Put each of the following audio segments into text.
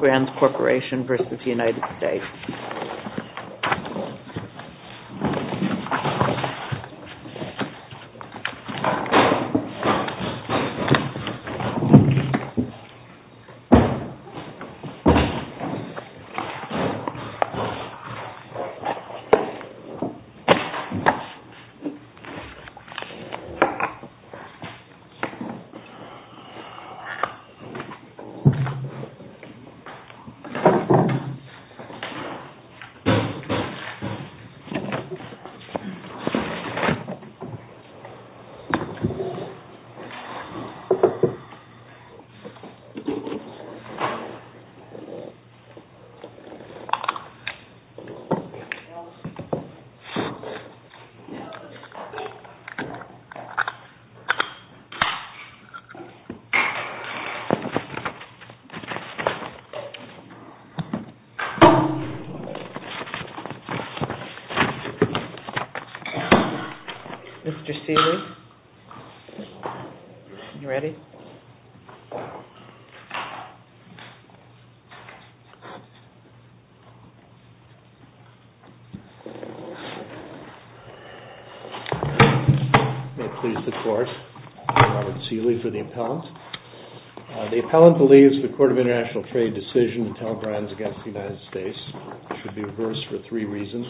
Brands Corporation, Presbyterian United States. Mr. Seeley, are you ready? May it please the Court, I'm Robert Seeley for the appellant. The appellant believes the Court of International Trade decision to tell brands against the United States should be reversed for three reasons.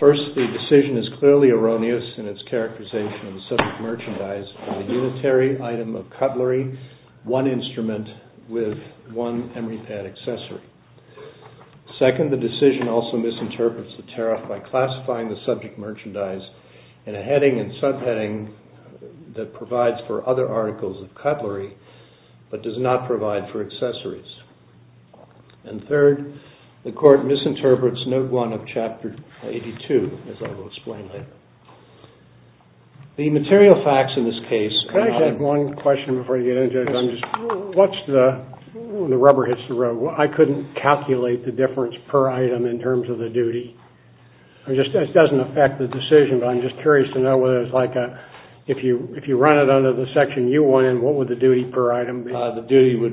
First, the decision is clearly erroneous in its characterization of the subject merchandise as a unitary item of cutlery, one instrument with one emery pad accessory. Second, the decision also misinterprets the tariff by classifying the subject merchandise in a heading and subheading that provides for other articles of the United States. of cutlery, but does not provide for accessories. And third, the Court misinterprets Note 1 of Chapter 82, as I will explain later. The material facts in this case... The duty would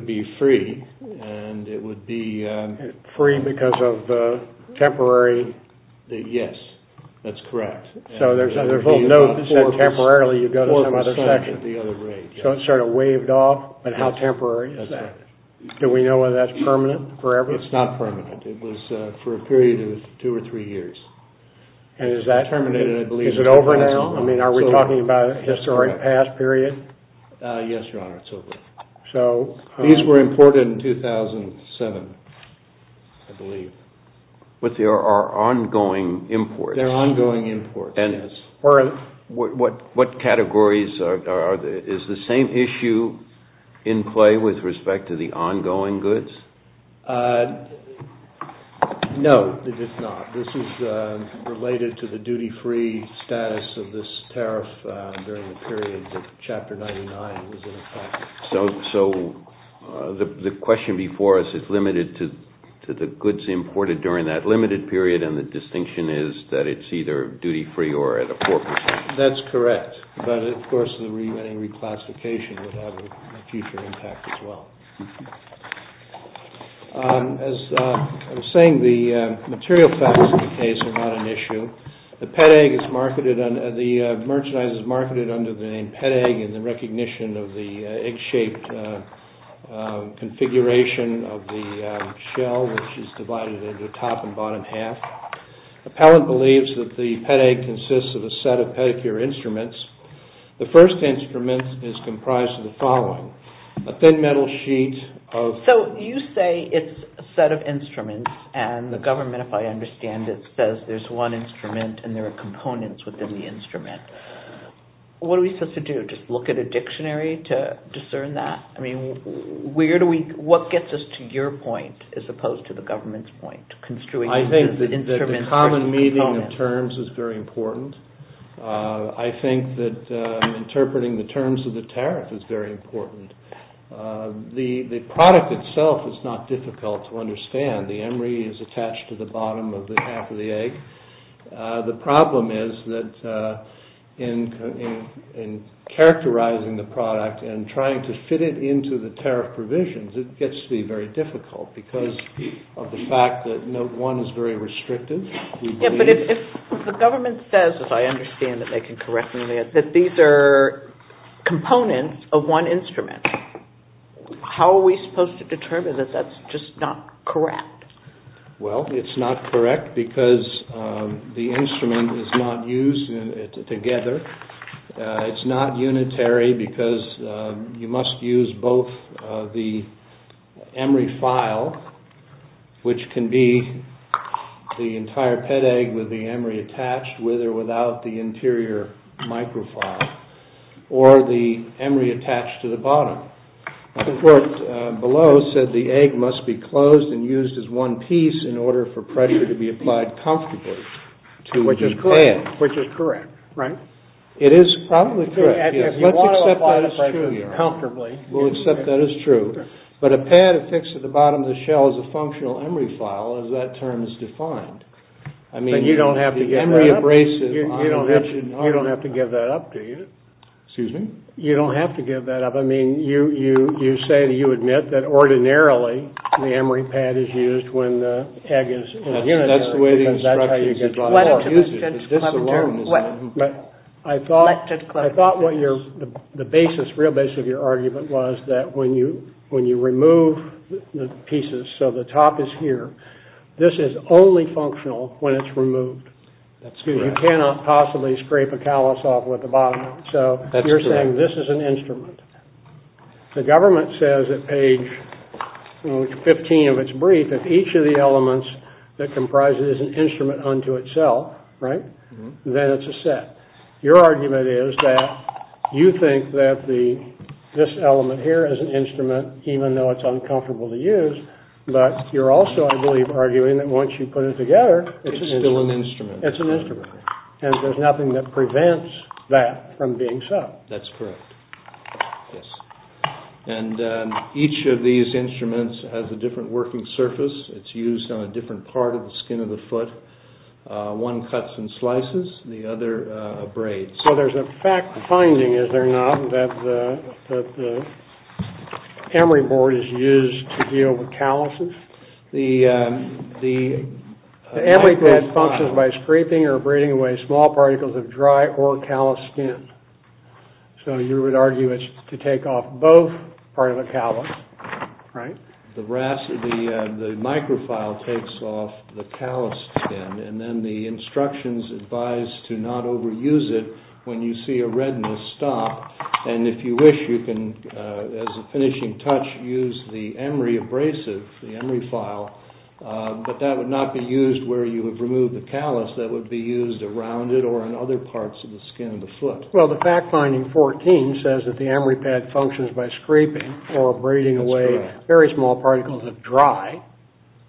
be free, and it would be... Yes, that's correct. It's not permanent. It was for a period of two or three years. And is that... Is it over now? I mean, are we talking about a historic past period? Yes, Your Honor, it's over. These were imported in 2007, I believe. But they are ongoing imports. They're ongoing imports, yes. What categories are... Is the same issue in play with respect to the ongoing goods? No, it is not. This is related to the duty-free status of this tariff during the period that Chapter 99 was in effect. So the question before us is limited to the goods imported during that limited period, and the distinction is that it's either duty-free or at a 4%. That's correct. But, of course, the remitting reclassification would have a future impact as well. As I was saying, the material facts of the case are not an issue. The merchandise is marketed under the name Pet Egg, in recognition of the egg-shaped configuration of the shell, which is divided into top and bottom half. Appellant believes that the Pet Egg consists of a set of pedicure instruments. The first instrument is comprised of the following, a thin metal sheet of... So you say it's a set of instruments, and the government, if I understand it, says there's one instrument and there are components within the instrument. What are we supposed to do? Just look at a dictionary to discern that? What gets us to your point as opposed to the government's point? I think that the common meaning of terms is very important. I think that interpreting the terms of the tariff is very important. The product itself is not difficult to understand. The emery is attached to the bottom of the half of the egg. The problem is that in characterizing the product and trying to fit it into the tariff provisions, it gets to be very difficult because of the fact that note one is very restrictive. The government says, as I understand that they can correct me on that, that these are components of one instrument. How are we supposed to determine that that's just not correct? Well, it's not correct because the instrument is not used together. It's not unitary because you must use both the emery file, which can be the entire Pet Egg with the emery attached with or without the interior microfile, or the emery attached to the bottom. The report below said the egg must be closed and used as one piece in order for pressure to be applied comfortably to the pad. Which is correct, right? It is probably correct. Let's accept that as true. But a pad affixed to the bottom of the shell is a functional emery file as that term is defined. You don't have to give that up, do you? Excuse me? You don't have to give that up. You admit that ordinarily the emery pad is used when the egg is unitary. That's how you get by. I thought the real basis of your argument was that when you remove the pieces, so the top is here, this is only functional when it's removed. You cannot possibly scrape a callus off with the bottom. So you're saying this is an instrument. The government says at page 15 of its brief that each of the elements that comprise it is an instrument unto itself, right? Then it's a set. Even though it's uncomfortable to use, but you're also, I believe, arguing that once you put it together, it's still an instrument. It's an instrument. And there's nothing that prevents that from being so. That's correct. And each of these instruments has a different working surface. It's used on a different part of the skin of the foot. One cuts and slices, the other abrades. So there's a fact finding, is there not, that the emery board is used to deal with calluses? The emery pad functions by scraping or abrading away small particles of dry or callus skin. So you would argue it's to take off both part of the callus, right? The microfile takes off the callus skin, and then the instructions advise to not overuse it when you see a redness stop. And if you wish, you can, as a finishing touch, use the emery abrasive, the emery file, but that would not be used where you have removed the callus. That would be used around it or in other parts of the skin of the foot. Well, the fact finding 14 says that the emery pad functions by scraping or abrading away very small particles of dry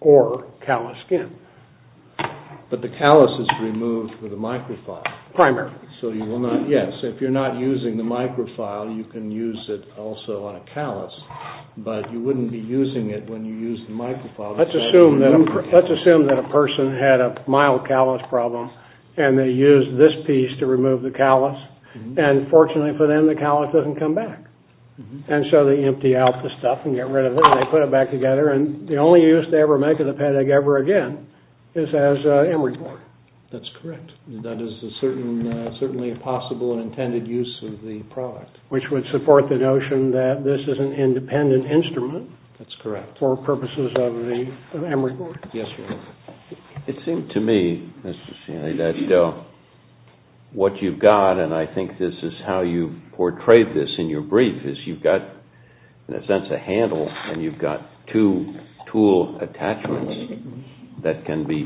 or callus skin. But the callus is removed with a microfile. Primarily. So you will not, yes, if you're not using the microfile, you can use it also on a callus, but you wouldn't be using it when you use the microfile. Let's assume that a person had a mild callus problem, and they used this piece to remove the callus, and fortunately for them, the callus doesn't come back. And so they empty out the stuff and get rid of it, and they put it back together, and the only use they ever make of the paddock ever again is as emery board. That's correct. That is certainly a possible and intended use of the product. Which would support the notion that this is an independent instrument. That's correct. For purposes of the emery board. Yes, sir. It seemed to me, Mr. Sheehan, that what you've got, and I think this is how you portrayed this in your brief, is you've got, in a sense, a handle, and you've got two tool attachments that can be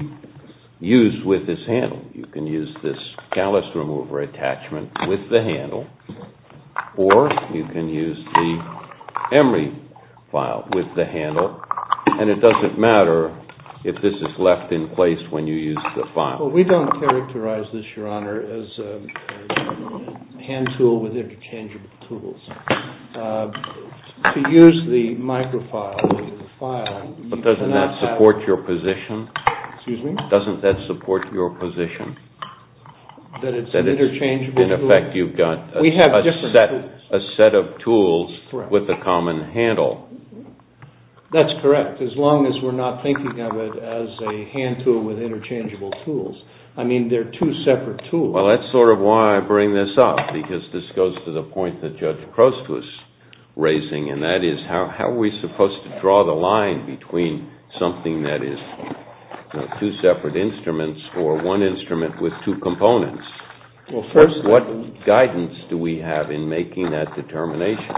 used with this handle. You can use this callus remover attachment with the handle, or you can use the emery file with the handle, and it doesn't matter if this is left in place when you use the file. Well, we don't characterize this, Your Honor, as a hand tool with interchangeable tools. To use the microfile with the file, you cannot have... But doesn't that support your position? Excuse me? Doesn't that support your position? That it's an interchangeable tool? In effect, you've got a set of tools with a common handle. That's correct, as long as we're not thinking of it as a hand tool with interchangeable tools. I mean, they're two separate tools. Well, that's sort of why I bring this up, because this goes to the point that Judge Crost was raising, and that is how are we supposed to draw the line between something that is two separate instruments or one instrument with two components? Well, first... What guidance do we have in making that determination?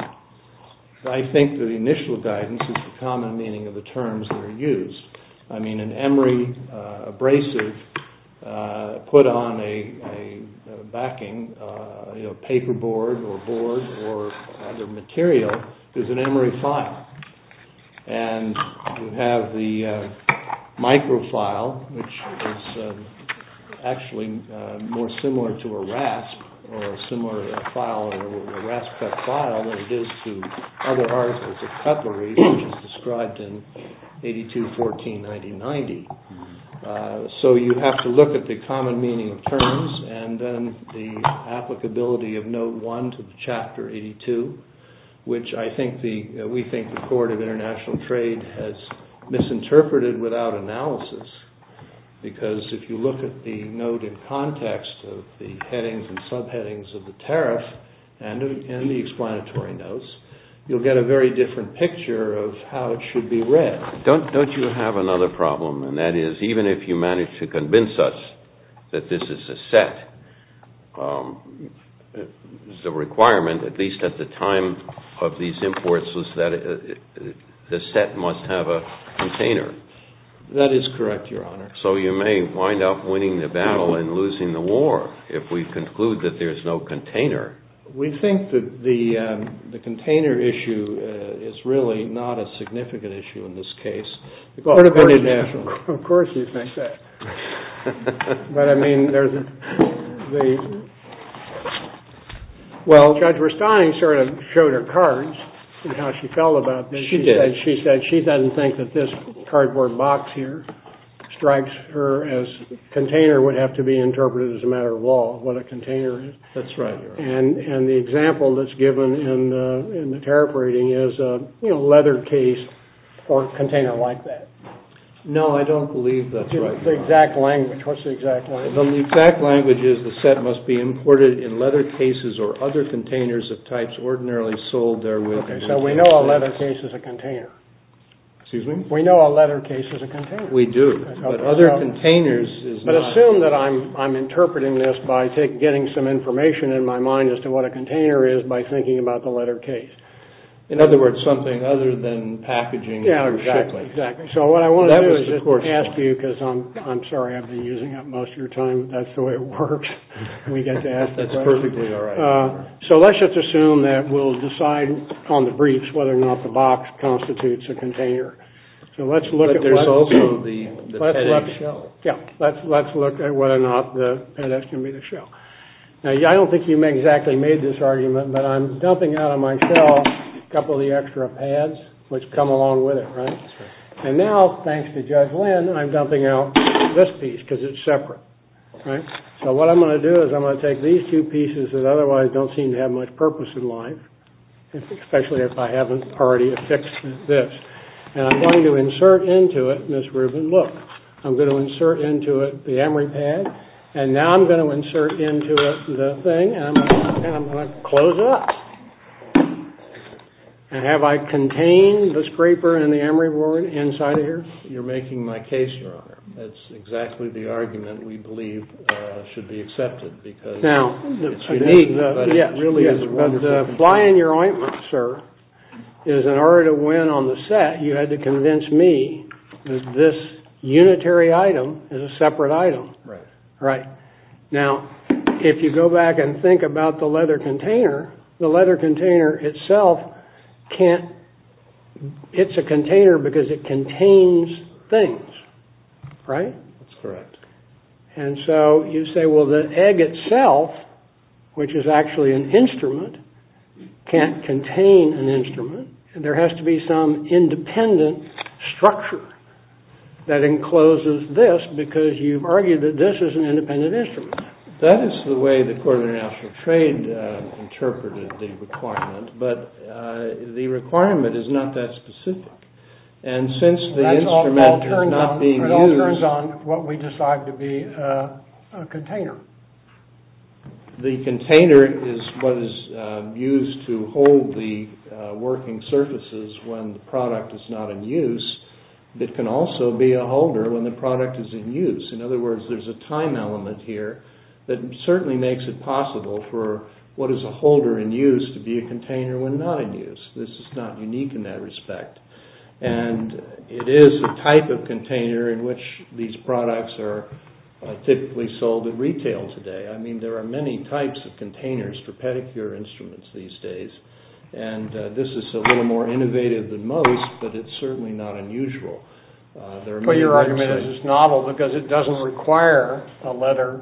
I think the initial guidance is the common meaning of the terms that are used. I mean, an emery abrasive put on a backing, a paperboard or board or other material is an emery file. And you have the microfile, which is actually more similar to a rasp cut file than it is to other articles of cutlery, which is described in 82-14-1990. So you have to look at the common meaning of terms and then the applicability of Note 1 to Chapter 82, which we think the Court of International Trade has misinterpreted without analysis. Because if you look at the note in context of the headings and subheadings of the tariff and the explanatory notes, you'll get a very different picture of how it should be read. Don't you have another problem, and that is, even if you manage to convince us that this is a set, the requirement, at least at the time of these imports, was that the set must have a container. That is correct, Your Honor. So you may wind up winning the battle and losing the war if we conclude that there's no container. We think that the container issue is really not a significant issue in this case. The Court of International Trade. Of course you think that. But, I mean, there's a... Judge Verstein sort of showed her cards and how she felt about this. She did. She said she doesn't think that this cardboard box here as container would have to be interpreted as a matter of law, what a container is. That's right, Your Honor. And the example that's given in the tariff rating is a leather case or container like that. No, I don't believe that's right, Your Honor. What's the exact language? The exact language is the set must be imported in leather cases or other containers of types ordinarily sold therewith. So we know a leather case is a container. Excuse me? We know a leather case is a container. We do. But other containers is not. But assume that I'm interpreting this by getting some information in my mind as to what a container is by thinking about the leather case. In other words, something other than packaging. Yeah, exactly. So what I want to do is just ask you, because I'm sorry I've been using that most of your time. That's the way it works. We get to ask the question. That's perfectly all right. So let's just assume that we'll decide on the briefs whether or not the box constitutes a container. But there's also the pedes. Yeah, let's look at whether or not the pedes can be the shell. Now, I don't think you exactly made this argument, but I'm dumping out of my shell a couple of the extra pads, which come along with it, right? And now, thanks to Judge Lynn, I'm dumping out this piece because it's separate. So what I'm going to do is I'm going to take these two pieces that otherwise don't seem to have much purpose in life, especially if I haven't already affixed this, and I'm going to insert into it, Ms. Rubin, look. I'm going to insert into it the emery pad, and now I'm going to insert into it the thing, and I'm going to close it up. And have I contained the scraper and the emery board inside of here? You're making my case, Your Honor. That's exactly the argument we believe should be accepted, because it's unique, but it really is wonderful. The fly in your ointment, sir, is in order to win on the set, you had to convince me that this unitary item is a separate item. Right. Now, if you go back and think about the leather container, the leather container itself can't... It's a container because it contains things, right? That's correct. And so you say, well, the egg itself, which is actually an instrument, can't contain an instrument, and there has to be some independent structure that encloses this, because you've argued that this is an independent instrument. That is the way the Court of International Trade interpreted the requirement, but the requirement is not that specific, and since the instrument is not being used... The container is what is used to hold the working surfaces when the product is not in use. It can also be a holder when the product is in use. In other words, there's a time element here that certainly makes it possible for what is a holder in use to be a container when not in use. This is not unique in that respect. And it is a type of container in which these products are typically sold at retail today. I mean, there are many types of containers for pedicure instruments these days, and this is a little more innovative than most, but it's certainly not unusual. But your argument is it's novel because it doesn't require a leather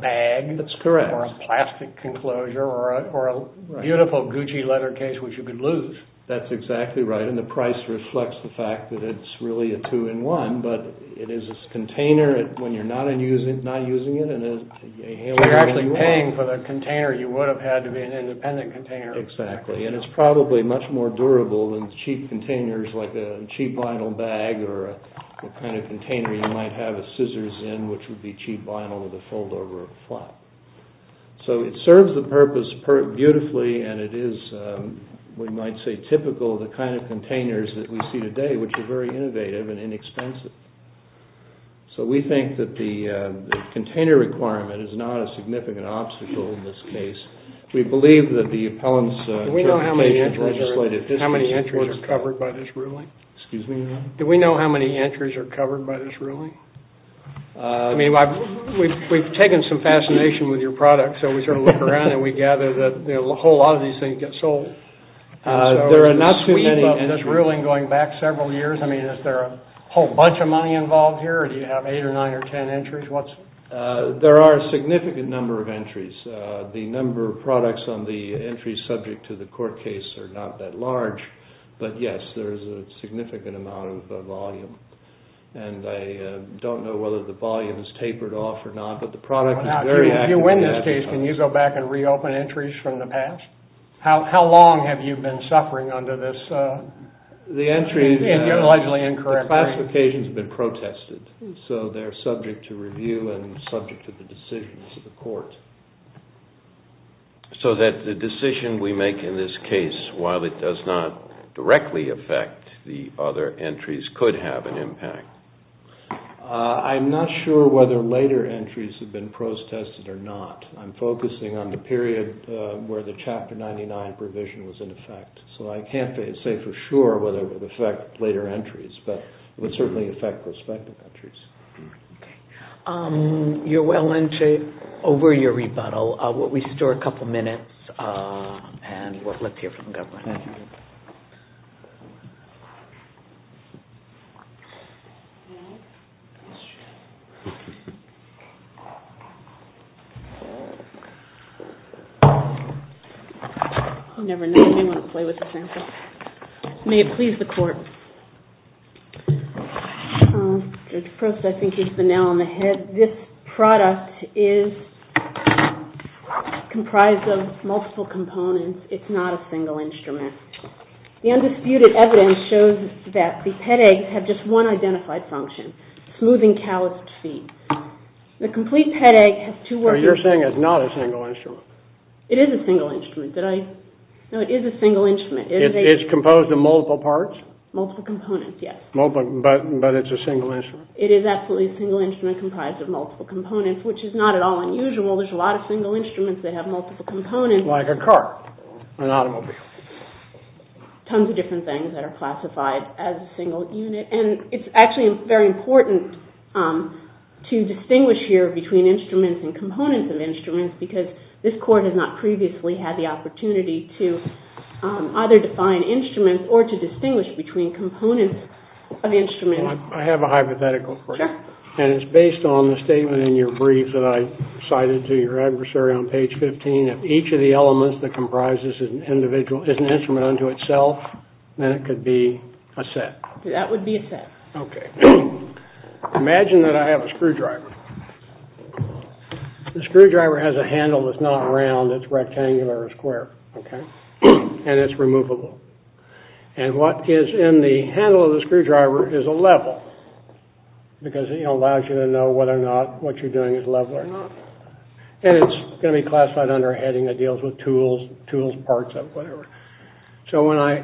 bag... That's correct. ...or a plastic enclosure or a beautiful Gucci leather case, which you could lose. That's exactly right, and the price reflects the fact that it's really a two-in-one, but it is a container when you're not using it, You're actually paying for the container. You would have had to be an independent container. Exactly, and it's probably much more durable than cheap containers like a cheap vinyl bag or the kind of container you might have scissors in, which would be cheap vinyl with a fold-over flap. So it serves the purpose beautifully, and it is, we might say, typical of the kind of containers that we see today, which are very innovative and inexpensive. So we think that the container requirement is not a significant obstacle in this case. We believe that the appellants... Do we know how many entries are covered by this ruling? Excuse me? Do we know how many entries are covered by this ruling? I mean, we've taken some fascination with your product, so we sort of look around and we gather that a whole lot of these things get sold. There are not too many entries. And this ruling going back several years, I mean, is there a whole bunch of money involved here, or do you have eight or nine or ten entries? There are a significant number of entries. The number of products on the entries subject to the court case are not that large, but yes, there is a significant amount of volume. And I don't know whether the volume is tapered off or not, but the product is very active in that case. Now, if you win this case, can you go back and reopen entries from the past? How long have you been suffering under this? The entries... You're allegedly incorrect. The classifications have been protested, so they're subject to review and subject to the decisions of the court. So that the decision we make in this case, while it does not directly affect the other entries, could have an impact. I'm not sure whether later entries have been protested or not. I'm focusing on the period where the Chapter 99 provision was in effect. So I can't say for sure whether it would affect later entries, but it would certainly affect prospective entries. Okay. You're well in shape over your rebuttal. We'll restore a couple minutes, and let's hear from the government. Thank you. You never know. You may want to play with the sample. May it please the court. First, I think he's the nail on the head. This product is comprised of multiple components. It's not a single instrument. The undisputed evidence shows that the pet eggs have just one identified function, smoothing calloused feet. The complete pet egg has two... No, you're saying it's not a single instrument. It is a single instrument. No, it is a single instrument. It's composed of multiple parts? Multiple components, yes. But it's a single instrument. It is absolutely a single instrument comprised of multiple components, which is not at all unusual. There's a lot of single instruments that have multiple components. Like a car, an automobile. Tons of different things that are classified as single unit. And it's actually very important to distinguish here between instruments and components of instruments because this court has not previously had the opportunity to either define instruments or to distinguish between components of instruments. I have a hypothetical for you. And it's based on the statement in your brief that I cited to your adversary on page 15. If each of the elements that comprises an individual is an instrument unto itself, then it could be a set. That would be a set. Okay. Imagine that I have a screwdriver. The screwdriver has a handle that's not round. It's rectangular or square. And it's removable. And what is in the handle of the screwdriver is a level because it allows you to know whether or not what you're doing is level or not. And it's going to be classified under a heading that deals with tools, parts, whatever. So when I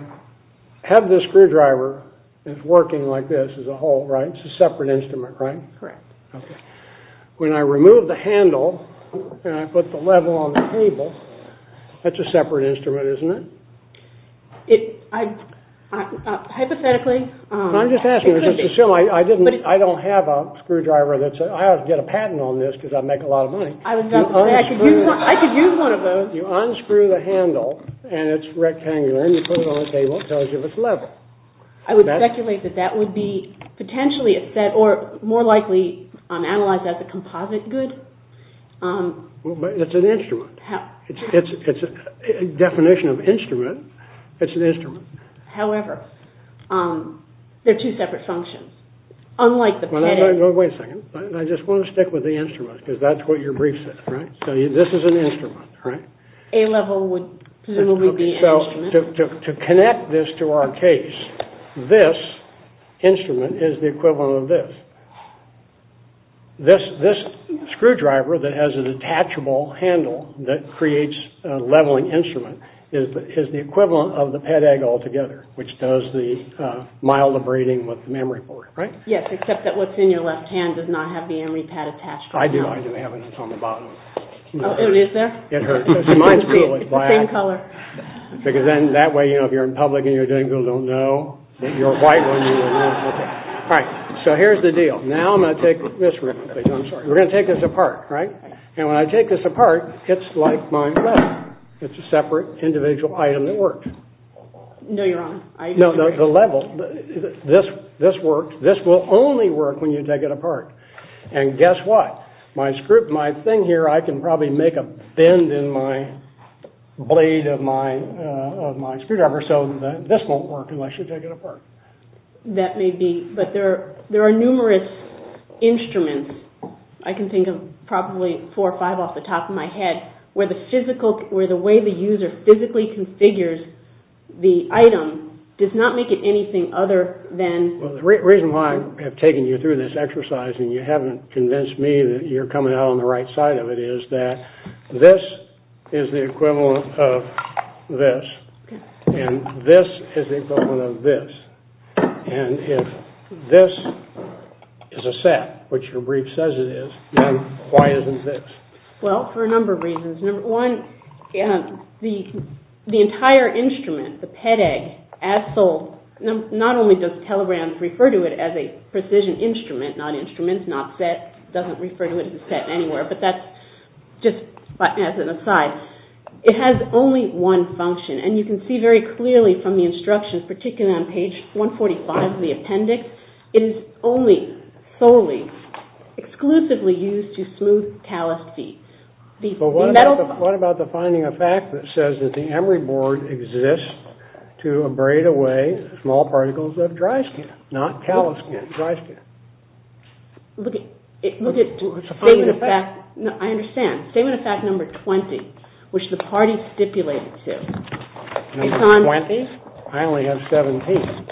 have this screwdriver that's working like this as a whole, right? It's a separate instrument, right? Correct. Okay. When I remove the handle and I put the level on the table, that's a separate instrument, isn't it? Hypothetically... I'm just asking. I don't have a screwdriver that's... I ought to get a patent on this because I'd make a lot of money. I could use one of those. You unscrew the handle, and it's rectangular, and you put it on the table. It tells you if it's level. I would speculate that that would be potentially a set or more likely analyzed as a composite good. It's an instrument. It's a definition of instrument. It's an instrument. However, they're two separate functions. Unlike the... Wait a second. I just want to stick with the instrument So this is an instrument, right? A level would presumably be an instrument. To connect this to our case, this instrument is the equivalent of this. This screwdriver that has a detachable handle that creates a leveling instrument is the equivalent of the PedEgg altogether, which does the mild abrading with the memory board, right? Yes, except that what's in your left hand does not have the memory pad attached right now. I do. I do have it. It's on the bottom. Oh, it is there? It hurts. Mine's really black. It's the same color. Because then that way, you know, if you're in public and you're doing, people don't know that you're white. All right. So here's the deal. Now I'm going to take this... I'm sorry. We're going to take this apart, right? And when I take this apart, it's like my level. It's a separate individual item that worked. No, you're wrong. No, no, the level. This worked. This will only work when you take it apart. And guess what? My screw... My thing here, I can probably make a bend in my blade of my screwdriver so that this won't work unless you take it apart. That may be. But there are numerous instruments, I can think of probably four or five off the top of my head, where the way the user physically configures the item does not make it anything other than... Well, the reason why I have taken you through this exercise and you haven't convinced me that you're coming out on the right side of it is that this is the equivalent of this, and this is the equivalent of this. And if this is a set, which your brief says it is, then why isn't this? Well, for a number of reasons. Number one, the entire instrument, the PEDEG, as sold, not only does Telegram refer to it as a precision instrument, not instruments, not set, doesn't refer to it as a set anywhere, but that's just as an aside. It has only one function, and you can see very clearly from the instructions, particularly on page 145 of the appendix, it is only, solely, exclusively used to smooth talus feet. But what about the finding of fact that says that the emery board exists to abrade away small particles of dry skin, not talus skin, dry skin? Look at statement of fact. I understand. Statement of fact number 20, which the party stipulated to. Number 20? I only have 17.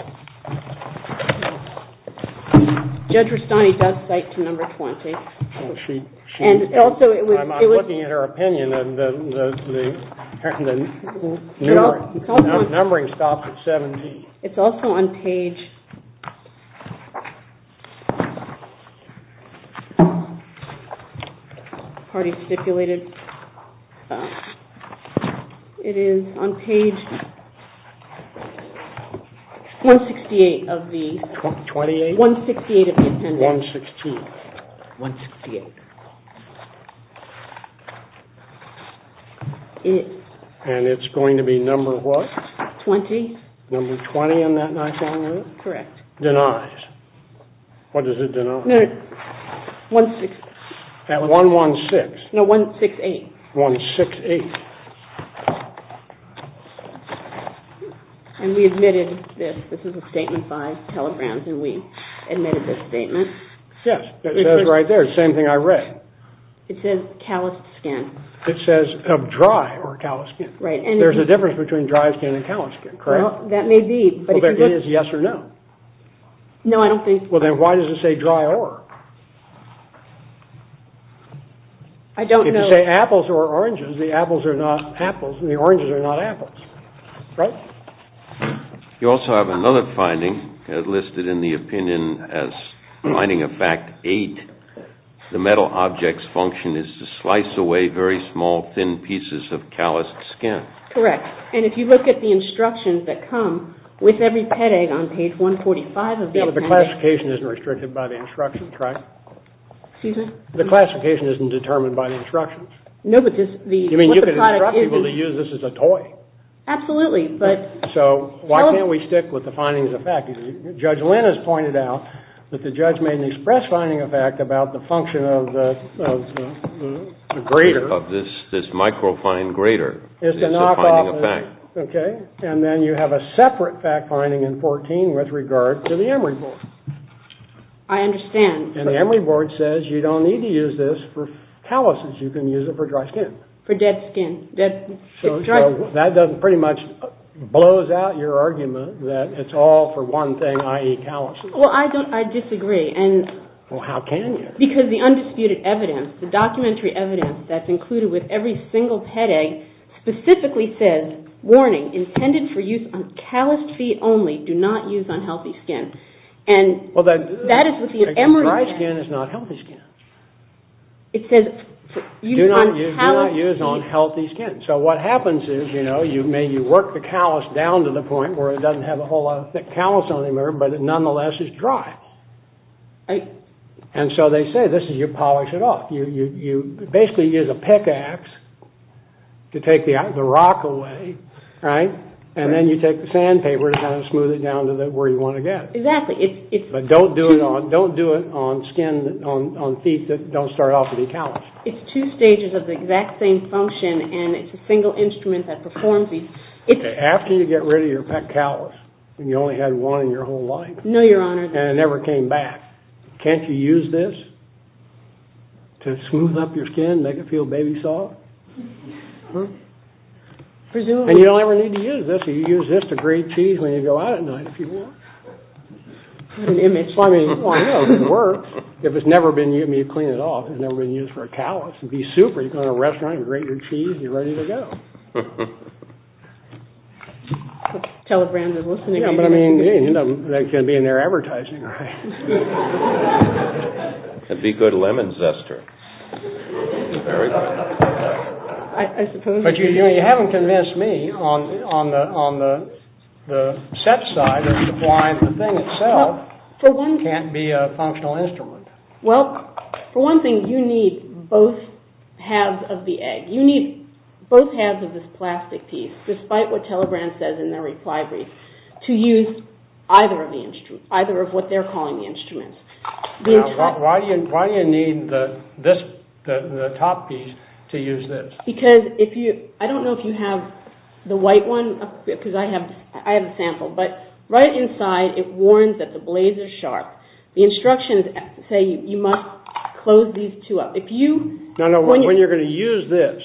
Judge Rastani does cite to number 20. I'm looking at her opinion, and the numbering stops at 17. It's also on page, party stipulated, it is on page 168 of the. 28? 168 of the appendix. 168. And it's going to be number what? 20. Number 20 on that nice long note? Correct. Denies. What does it deny? At 116. No, 168. 168. And we admitted this. This is a statement by Telegram, and we admitted this statement. Yes, it says right there, the same thing I read. It says talus skin. It says dry or talus skin. Right. There's a difference between dry skin and talus skin, correct? That may be. But it is yes or no. No, I don't think. Well, then why does it say dry or? I don't know. If you say apples or oranges, the apples are not apples, and the oranges are not apples. Right? You also have another finding listed in the opinion as finding a fact eight. The metal object's function is to slice away very small, thin pieces of talus skin. Correct. And if you look at the instructions that come, with every pet egg on page 145 of this. The classification isn't restricted by the instructions, right? Excuse me? The classification isn't determined by the instructions. No, but just the. You mean you can instruct people to use this as a toy? Absolutely, but. So why can't we stick with the findings of fact? Judge Lynn has pointed out that the judge made an express finding of fact about the function of the grater. Of this microfine grater. It's a knockoff. It's a finding of fact. OK. And then you have a separate fact finding in 14 with regard to the Emory board. I understand. And the Emory board says you don't need to use this for taluses. You can use it for dry skin. For dead skin. So that pretty much blows out your argument that it's all for one thing, i.e. taluses. Well, I disagree. Well, how can you? Because the undisputed evidence, the documentary evidence that's included with every single headache specifically says, warning, intended for use on calloused feet only. Do not use on healthy skin. And that is with the Emory board. Dry skin is not healthy skin. It says use on calloused feet. Do not use on healthy skin. So what happens is you work the callous down to the point where it doesn't have a whole lot of thick callous on it, but it nonetheless is dry. And so they say this is your polish it off. You basically use a pickaxe to take the rock away. And then you take the sandpaper to kind of smooth it down to where you want to get. Exactly. But don't do it on skin, on feet that don't start off with any callous. It's two stages of the exact same function. And it's a single instrument that performs these. After you get rid of your pet callous, you only had one in your whole life. No, Your Honor. And it never came back. Can't you use this to smooth up your skin, make it feel baby soft? Presumably. And you don't ever need to use this. You use this to grate cheese when you go out at night if you want. What an image. Well, I know. It works. If it's never been used to clean it off, it's never been used for a callous. It'd be super. You go in a restaurant and grate your cheese, and you're ready to go. Telebrand is listening. Yeah, but I mean, that can be in their advertising, right? It'd be good lemon zester. Very good. I suppose. But you haven't convinced me on the set side of supplying the thing itself can't be a functional instrument. Well, for one thing, you need both halves of the egg. You need both halves of this plastic piece, despite what Telebrand says in their reply brief, to use either of the instruments, either of what they're calling the instruments. Why do you need the top piece to use this? Because I don't know if you have the white one, because I have a sample. But right inside, it warns that the blades are sharp. The instructions say you must close these two up. No, no, when you're going to use this,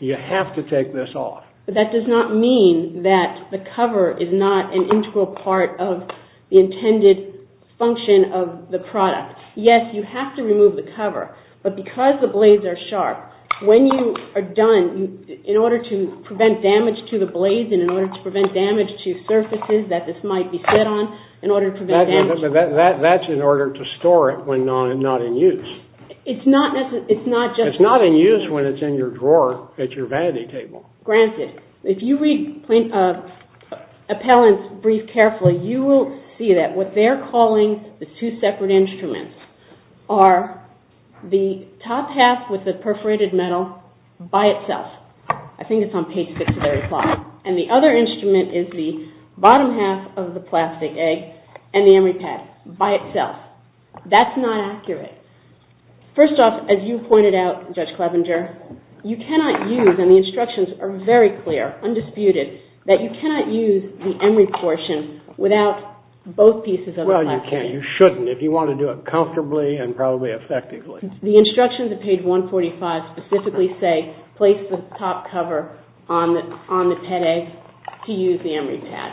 you have to take this off. But that does not mean that the cover is not an integral part of the intended function of the product. Yes, you have to remove the cover, but because the blades are sharp, when you are done, in order to prevent damage to the blades and in order to prevent damage to surfaces that this might be set on, in order to prevent damage. That's in order to store it when not in use. It's not just... It's not in use when it's in your drawer at your vanity table. Granted. If you read Appellant's brief carefully, you will see that what they're calling the two separate instruments are the top half with the perforated metal by itself. I think it's on page 6 of their reply. And the other instrument is the bottom half of the plastic egg and the emery pad by itself. That's not accurate. First off, as you pointed out, Judge Clevenger, you cannot use, and the instructions are very clear, undisputed, that you cannot use the emery portion without both pieces of the plastic egg. Well, you can't. You shouldn't if you want to do it comfortably and probably effectively. The instructions at page 145 specifically say place the top cover on the pet egg to use the emery pad.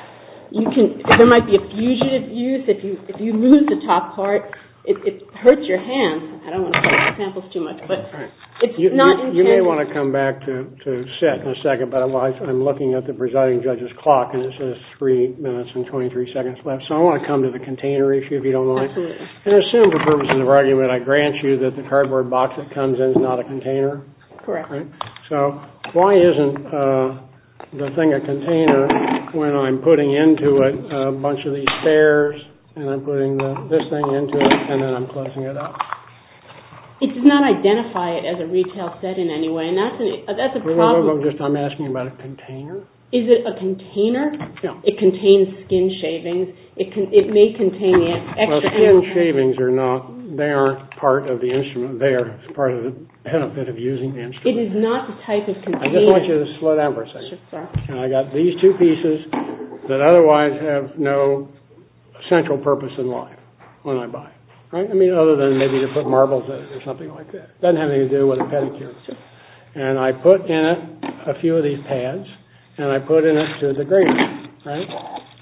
There might be a fugitive use. If you move the top part, it hurts your hand. I don't want to play with the samples too much. But it's not intended. You may want to come back to sit in a second. But I'm looking at the presiding judge's clock. And it says three minutes and 23 seconds left. So I want to come to the container issue, if you don't mind. Absolutely. And assume for purposes of argument, I grant you that the cardboard box that comes in is not a container. Correct. So why isn't the thing a container when I'm putting into it a bunch of these stairs and I'm putting this thing into it and then I'm closing it up? It does not identify it as a retail set in any way. That's a problem. I'm asking about a container. Is it a container? No. It contains skin shavings. It may contain it. Skin shavings are not. They aren't part of the instrument. They are part of the benefit of using the instrument. It is not the type of container. I just want you to slow down for a second. And I got these two pieces that otherwise have no central purpose in life when I buy. I mean, other than maybe to put marbles in or something like that. It doesn't have anything to do with a pedicure. And I put in it a few of these pads and I put in it to the grainer.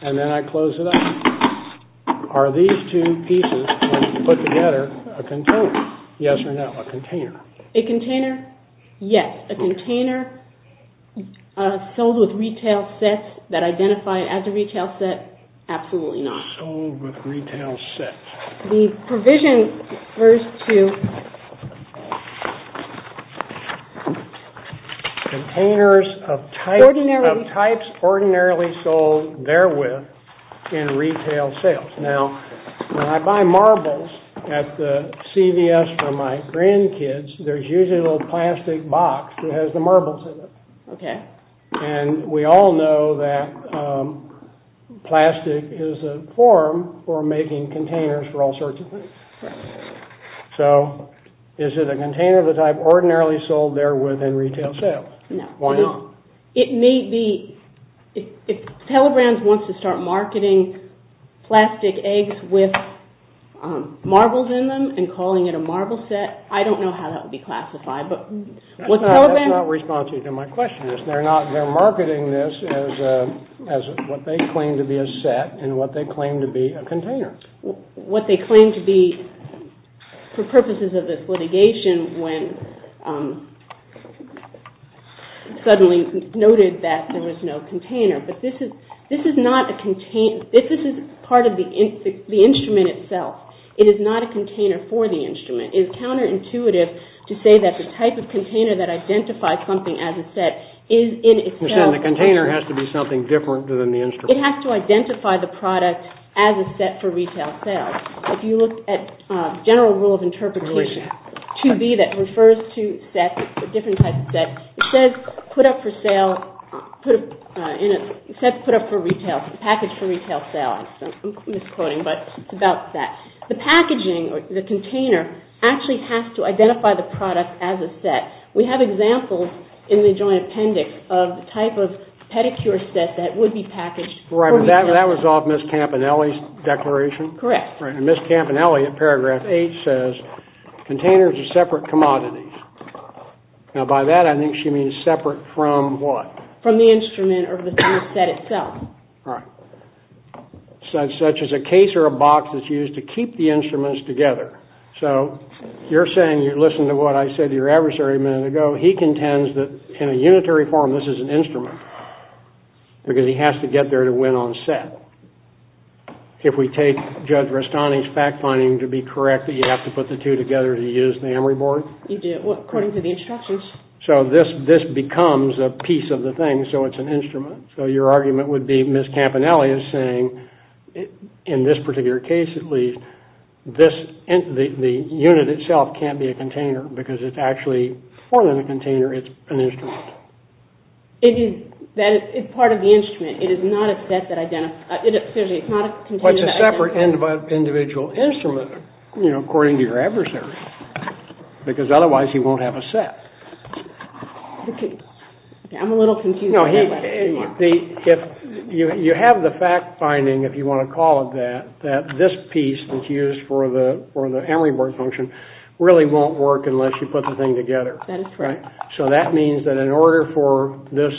And then I close it up. Are these two pieces, when put together, a container? Yes or no, a container. A container, yes. A container sold with retail sets that identify as a retail set? Absolutely not. Sold with retail sets. The provision refers to containers of types ordinarily sold therewith in retail sales. Now, when I buy marbles at the CVS for my grandkids, there's usually a little plastic box that has the marbles in it. OK. And we all know that plastic is a form for making containers for all sorts of things. Right. So, is it a container of the type ordinarily sold therewith in retail sales? No. Why not? It may be. If Telegram wants to start marketing plastic eggs with marbles in them and calling it a marble set, I don't know how that would be classified. That's not responsive to my question. They're marketing this as what they claim to be a set and what they claim to be a container. What they claim to be, for purposes of this litigation, when suddenly noted that there was no container. But this is part of the instrument itself. It is not a container for the instrument. It is counterintuitive to say that the type of container that identifies something as a set is in itself. So, the container has to be something different than the instrument. It has to identify the product as a set for retail sales. If you look at general rule of interpretation, 2B that refers to sets, different types of sets, it says put up for sale, set put up for retail, package for retail sales. I'm misquoting, but it's about that. The packaging, the container, actually has to identify the product as a set. We have examples in the joint appendix of the type of pedicure set that would be packaged for retail. Right, but that was off Ms. Campanelli's declaration? Correct. Right, and Ms. Campanelli in paragraph 8 says, containers are separate commodities. Now, by that, I think she means separate from what? From the instrument or the set itself. Right. Such as a case or a box that's used to keep the instruments together. So, you're saying, listen to what I said to your adversary a minute ago. He contends that in a unitary form, this is an instrument because he has to get there to win on set. If we take Judge Rastani's fact-finding to be correct, that you have to put the two together to use the Emory board? You do, according to the instructions. So, this becomes a piece of the thing, so it's an instrument. So, your argument would be Ms. Campanelli is saying, in this particular case at least, the unit itself can't be a container because it's actually more than a container. It's an instrument. It's part of the instrument. It is not a set that identifies. It's not a container that identifies. It's a separate individual instrument, according to your adversary, because otherwise he won't have a set. I'm a little confused. You have the fact-finding, if you want to call it that, that this piece that's used for the Emory board function really won't work unless you put the thing together. So, that means that in order for this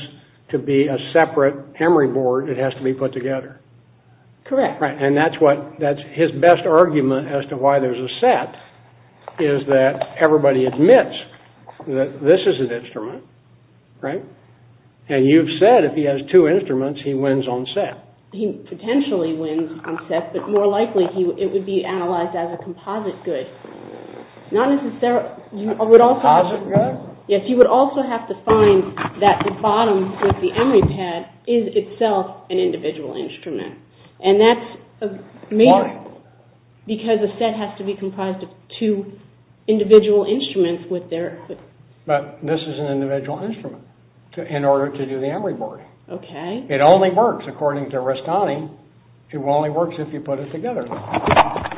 to be a separate Emory board, it has to be put together. Correct. And that's his best argument as to why there's a set is that everybody admits that this is an instrument, right? And you've said if he has two instruments, he wins on set. He potentially wins on set, but more likely it would be analyzed as a composite good. Composite good? Yes, you would also have to find that the bottom of the Emory pad is itself an individual instrument. And that's amazing. Why? Because a set has to be comprised of two individual instruments with their... But this is an individual instrument in order to do the Emory board. Okay. It only works, according to Rastani, it only works if you put it together.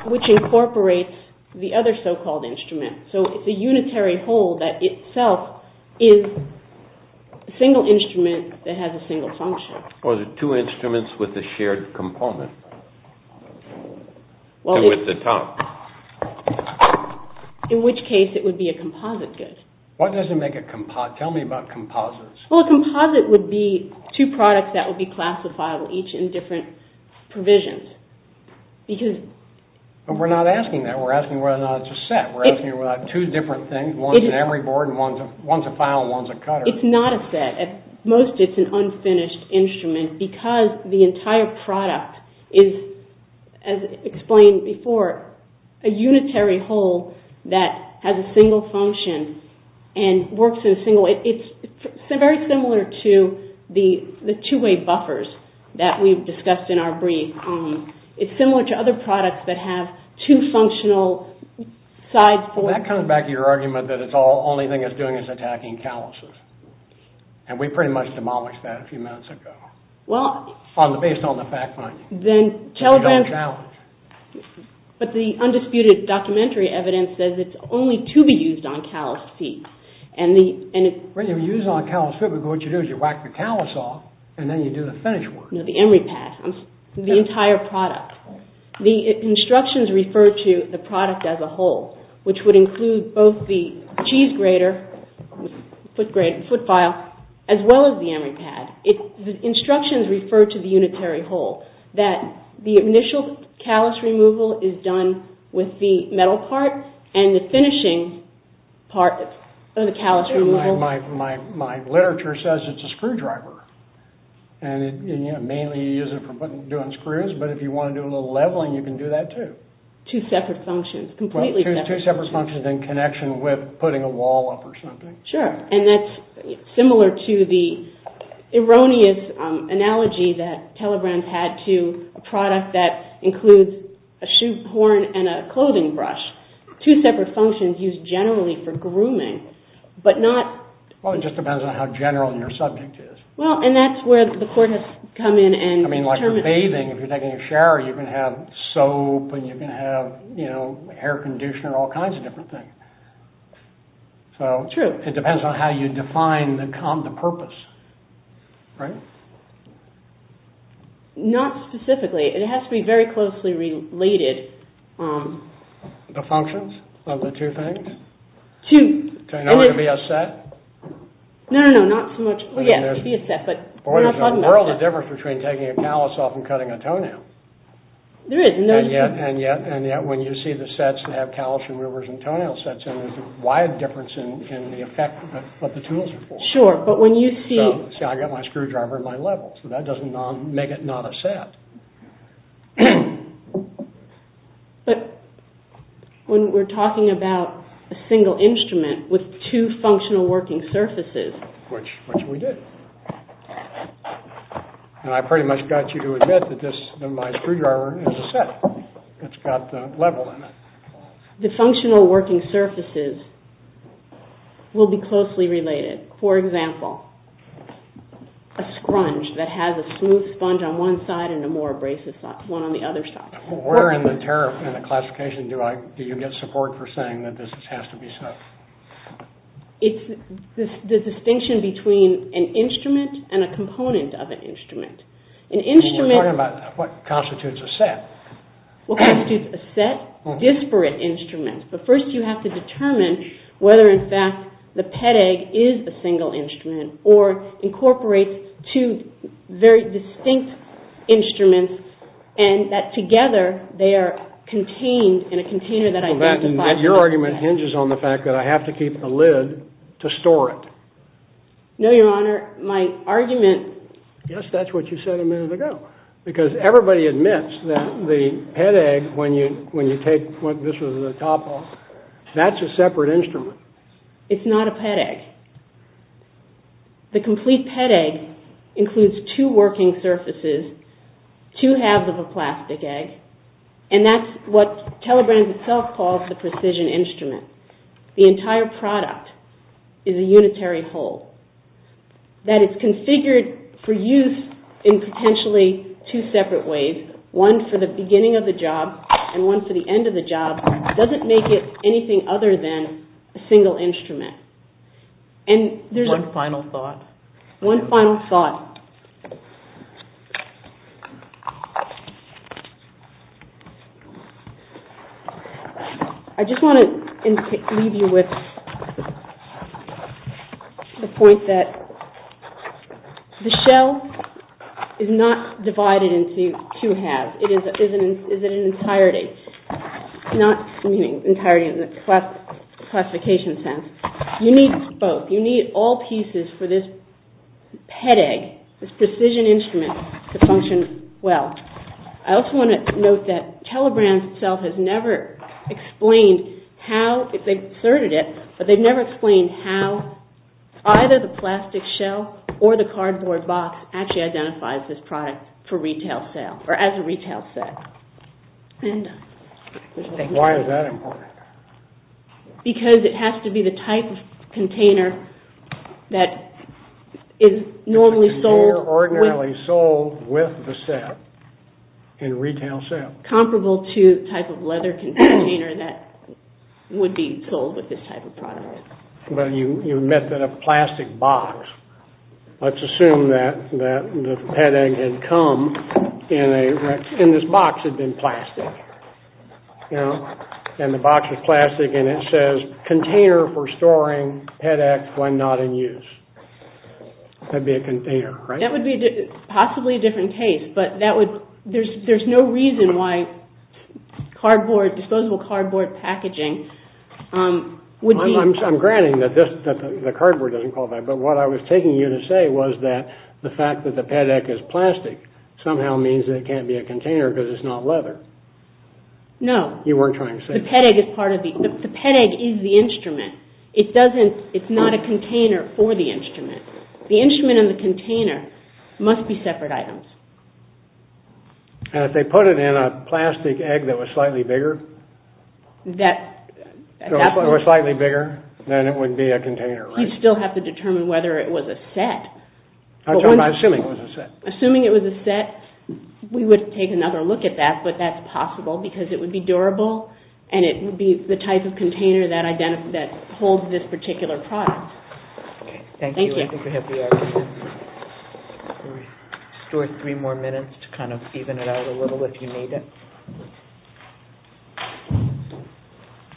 Which incorporates the other so-called instrument. So, it's a unitary whole that itself is a single instrument that has a single function. Or the two instruments with the shared component. Two at the top. In which case it would be a composite good. What does it make a... Tell me about composites. Well, a composite would be two products that would be classifiable each in different provisions. Because... We're not asking that. We're asking whether or not it's a set. We're asking whether or not it's two different things. One's an Emory board, and one's a file, and one's a cutter. It's not a set. At most, it's an unfinished instrument because the entire product is, as explained before, a unitary whole that has a single function and works in a single... It's very similar to the two-way buffers that we've discussed in our brief. It's similar to other products that have two functional sides for... Well, that comes back to your argument that the only thing it's doing is attacking calluses. And we pretty much demolished that a few minutes ago. Well... Based on the fact finding. Then... But the undisputed documentary evidence says it's only to be used on callus feet. And the... When you use it on callus feet, what you do is you whack the callus off, and then you do the finish work. No, the Emory pad. The entire product. The instructions refer to the product as a whole, which would include both the cheese grater, foot file, as well as the Emory pad. The instructions refer to the unitary whole. That the initial callus removal is done with the metal part, and the finishing part of the callus removal... My literature says it's a screwdriver. And mainly you use it for doing screws, but if you want to do a little leveling, you can do that too. Two separate functions. Completely separate functions. Two separate functions in connection with putting a wall up or something. Sure. And that's similar to the erroneous analogy that Telegram's had to a product that includes a shoe horn and a clothing brush. Two separate functions used generally for grooming, but not... Well, it just depends on how general your subject is. Well, and that's where the court has come in and... I mean, like with bathing, if you're taking a shower, you can have soap, and you can have, you know, hair conditioner, all kinds of different things. So... It depends on how you define the purpose. Right? Not specifically. It has to be very closely related. The functions of the two things? Two... Can it only be a set? No, no, no, not so much... Well, yeah, it could be a set, but we're not talking about that. There's a world of difference between taking a callus off and cutting a toenail. There is, and there's... And yet when you see the sets that have callus removers and toenail sets in, there's a wide difference in the effect that the tools are for. Sure, but when you see... See, I got my screwdriver in my level, so that doesn't make it not a set. But... When we're talking about a single instrument with two functional working surfaces... Which we did. And I pretty much got you to admit that my screwdriver is a set. It's got the level in it. The functional working surfaces will be closely related. For example, a scrunch that has a smooth sponge on one side and a more abrasive one on the other side. Where in the tariff and the classification do you get support for saying that this has to be so? It's the distinction between an instrument and a component of an instrument. An instrument... We're talking about what constitutes a set. What constitutes a set? Disparate instruments. But first you have to determine whether, in fact, the PEDEG is a single instrument or incorporates two very distinct instruments and that together they are contained in a container that identifies... Your argument hinges on the fact that I have to keep a lid to store it. No, Your Honor. My argument... Yes, that's what you said a minute ago. Because everybody admits that the PEDEG, when you take... This was a topple. That's a separate instrument. It's not a PEDEG. The complete PEDEG includes two working surfaces, two halves of a plastic egg, and that's what Telebrand itself calls the precision instrument. The entire product is a unitary whole that is configured for use in potentially two separate ways. One for the beginning of the job and one for the end of the job doesn't make it anything other than a single instrument. One final thought. One final thought. I just want to leave you with the point that the shell is not divided into two halves. It is an entirety. Not meaning entirety in the classification sense. You need both. You need all pieces for this PEDEG, this precision instrument, to function well. I also want to note that Telebrand itself has never explained how... They've asserted it, but they've never explained how either the plastic shell or the cardboard box actually identifies this product for retail sale or as a retail set. Why is that important? Because it has to be the type of container that is normally sold... Ordinarily sold with the set in retail sales. Comparable to the type of leather container that would be sold with this type of product. But you meant that a plastic box. Let's assume that the PEDEG had come and this box had been plastic. And the box was plastic and it says, container for storing PEDEG when not in use. That would be a container, right? That would be possibly a different case, but there's no reason why disposable cardboard packaging would be... I'm granting that the cardboard doesn't qualify, but what I was taking you to say was that the fact that the PEDEG is plastic somehow means that it can't be a container because it's not leather. No. You weren't trying to say that. The PEDEG is part of the... The PEDEG is the instrument. It doesn't... It's not a container for the instrument. The instrument and the container must be separate items. And if they put it in a plastic egg that was slightly bigger? That... If it were slightly bigger, then it would be a container, right? You'd still have to determine whether it was a set. I'm talking about assuming it was a set. Assuming it was a set, we would take another look at that, but that's possible because it would be durable and it would be the type of container that holds this particular product. Okay. Thank you. Thank you. I think we have the argument. Store three more minutes to kind of even it out a little if you need it.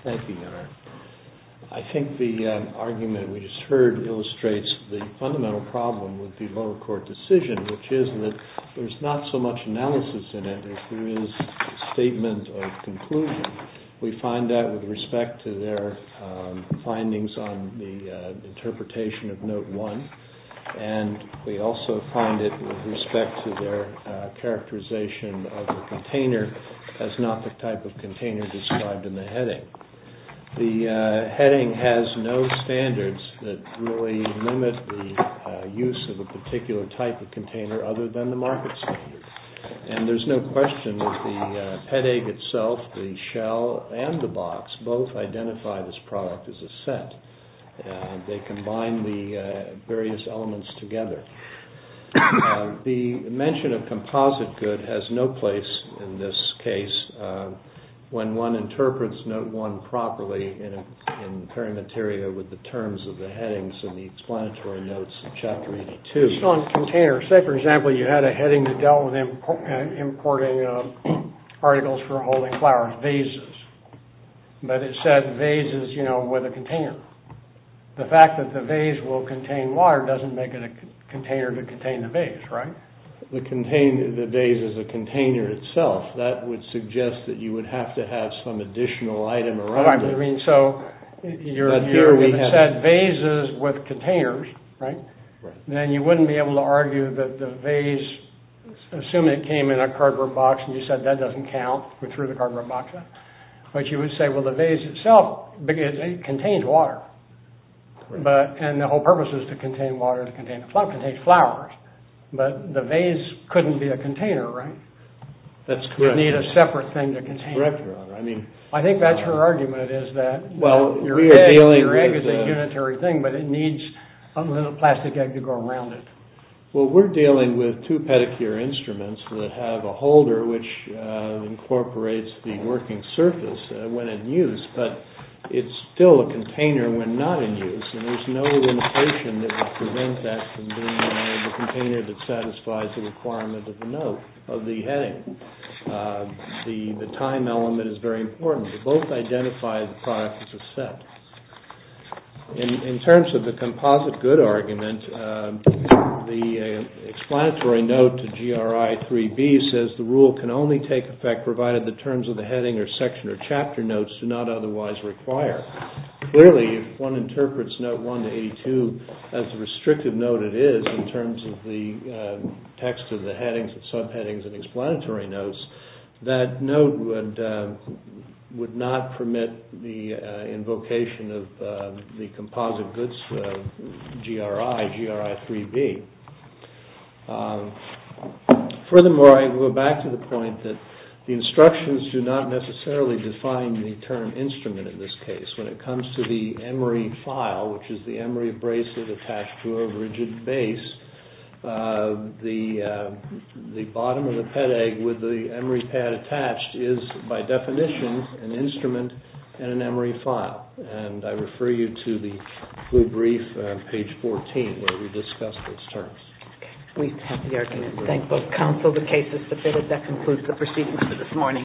Thank you. I think the argument we just heard illustrates the fundamental problem with the lower court decision, which is that there's not so much analysis in it as there is statement of conclusion. We find that with respect to their findings on the interpretation of Note 1, and we also find it with respect to their characterization of the container as not the type of container described in the heading. The heading has no standards that really limit the use of a particular type of container other than the market standard. And there's no question that the head egg itself, the shell, and the box both identify this product as a set. They combine the various elements together. The mention of composite good has no place in this case when one interprets Note 1 properly in perimeteria with the terms of the headings and the explanatory notes of Chapter 82. It's not a container. Say, for example, you had a heading that dealt with importing articles for holding flowers, vases. But it said vases, you know, with a container. The fact that the vase will contain water doesn't make it a container to contain the vase, right? The vase is a container itself. That would suggest that you would have to have some additional item around it. I mean, so, if it said vases with containers, right, then you wouldn't be able to argue that the vase, assuming it came in a cardboard box and you said that doesn't count, we threw the cardboard box in, but you would say, well, the vase itself contains water. And the whole purpose is to contain water, to contain flowers. But the vase couldn't be a container, right? That's correct. You'd need a separate thing to contain it. That's correct, Your Honor. I think that's her argument, is that your egg is a unitary thing, but it needs a little plastic egg to go around it. Well, we're dealing with two pedicure instruments that have a holder, which incorporates the working surface when in use, but it's still a container when not in use. And there's no limitation that would prevent that from being the container that satisfies the requirement of the note of the heading. The time element is very important. They both identify the product as a set. In terms of the composite good argument, the explanatory note to GRI 3B says the rule can only take effect provided the terms of the heading or section or chapter notes do not otherwise require. Clearly, if one interprets Note 1 to 82 as the restrictive note it is in terms of the text of the headings and subheadings and explanatory notes, that note would not permit the invocation of the composite goods GRI, GRI 3B. Furthermore, I go back to the point that the instructions do not necessarily define the term instrument in this case. When it comes to the Emory file, which is the Emory bracelet attached to a rigid base, the bottom of the pedag with the Emory pad attached is by definition an instrument in an Emory file. And I refer you to the blue brief, page 14, where we discuss those terms. We have the argument to thank both counsel, the case is submitted. That concludes the proceedings for this morning.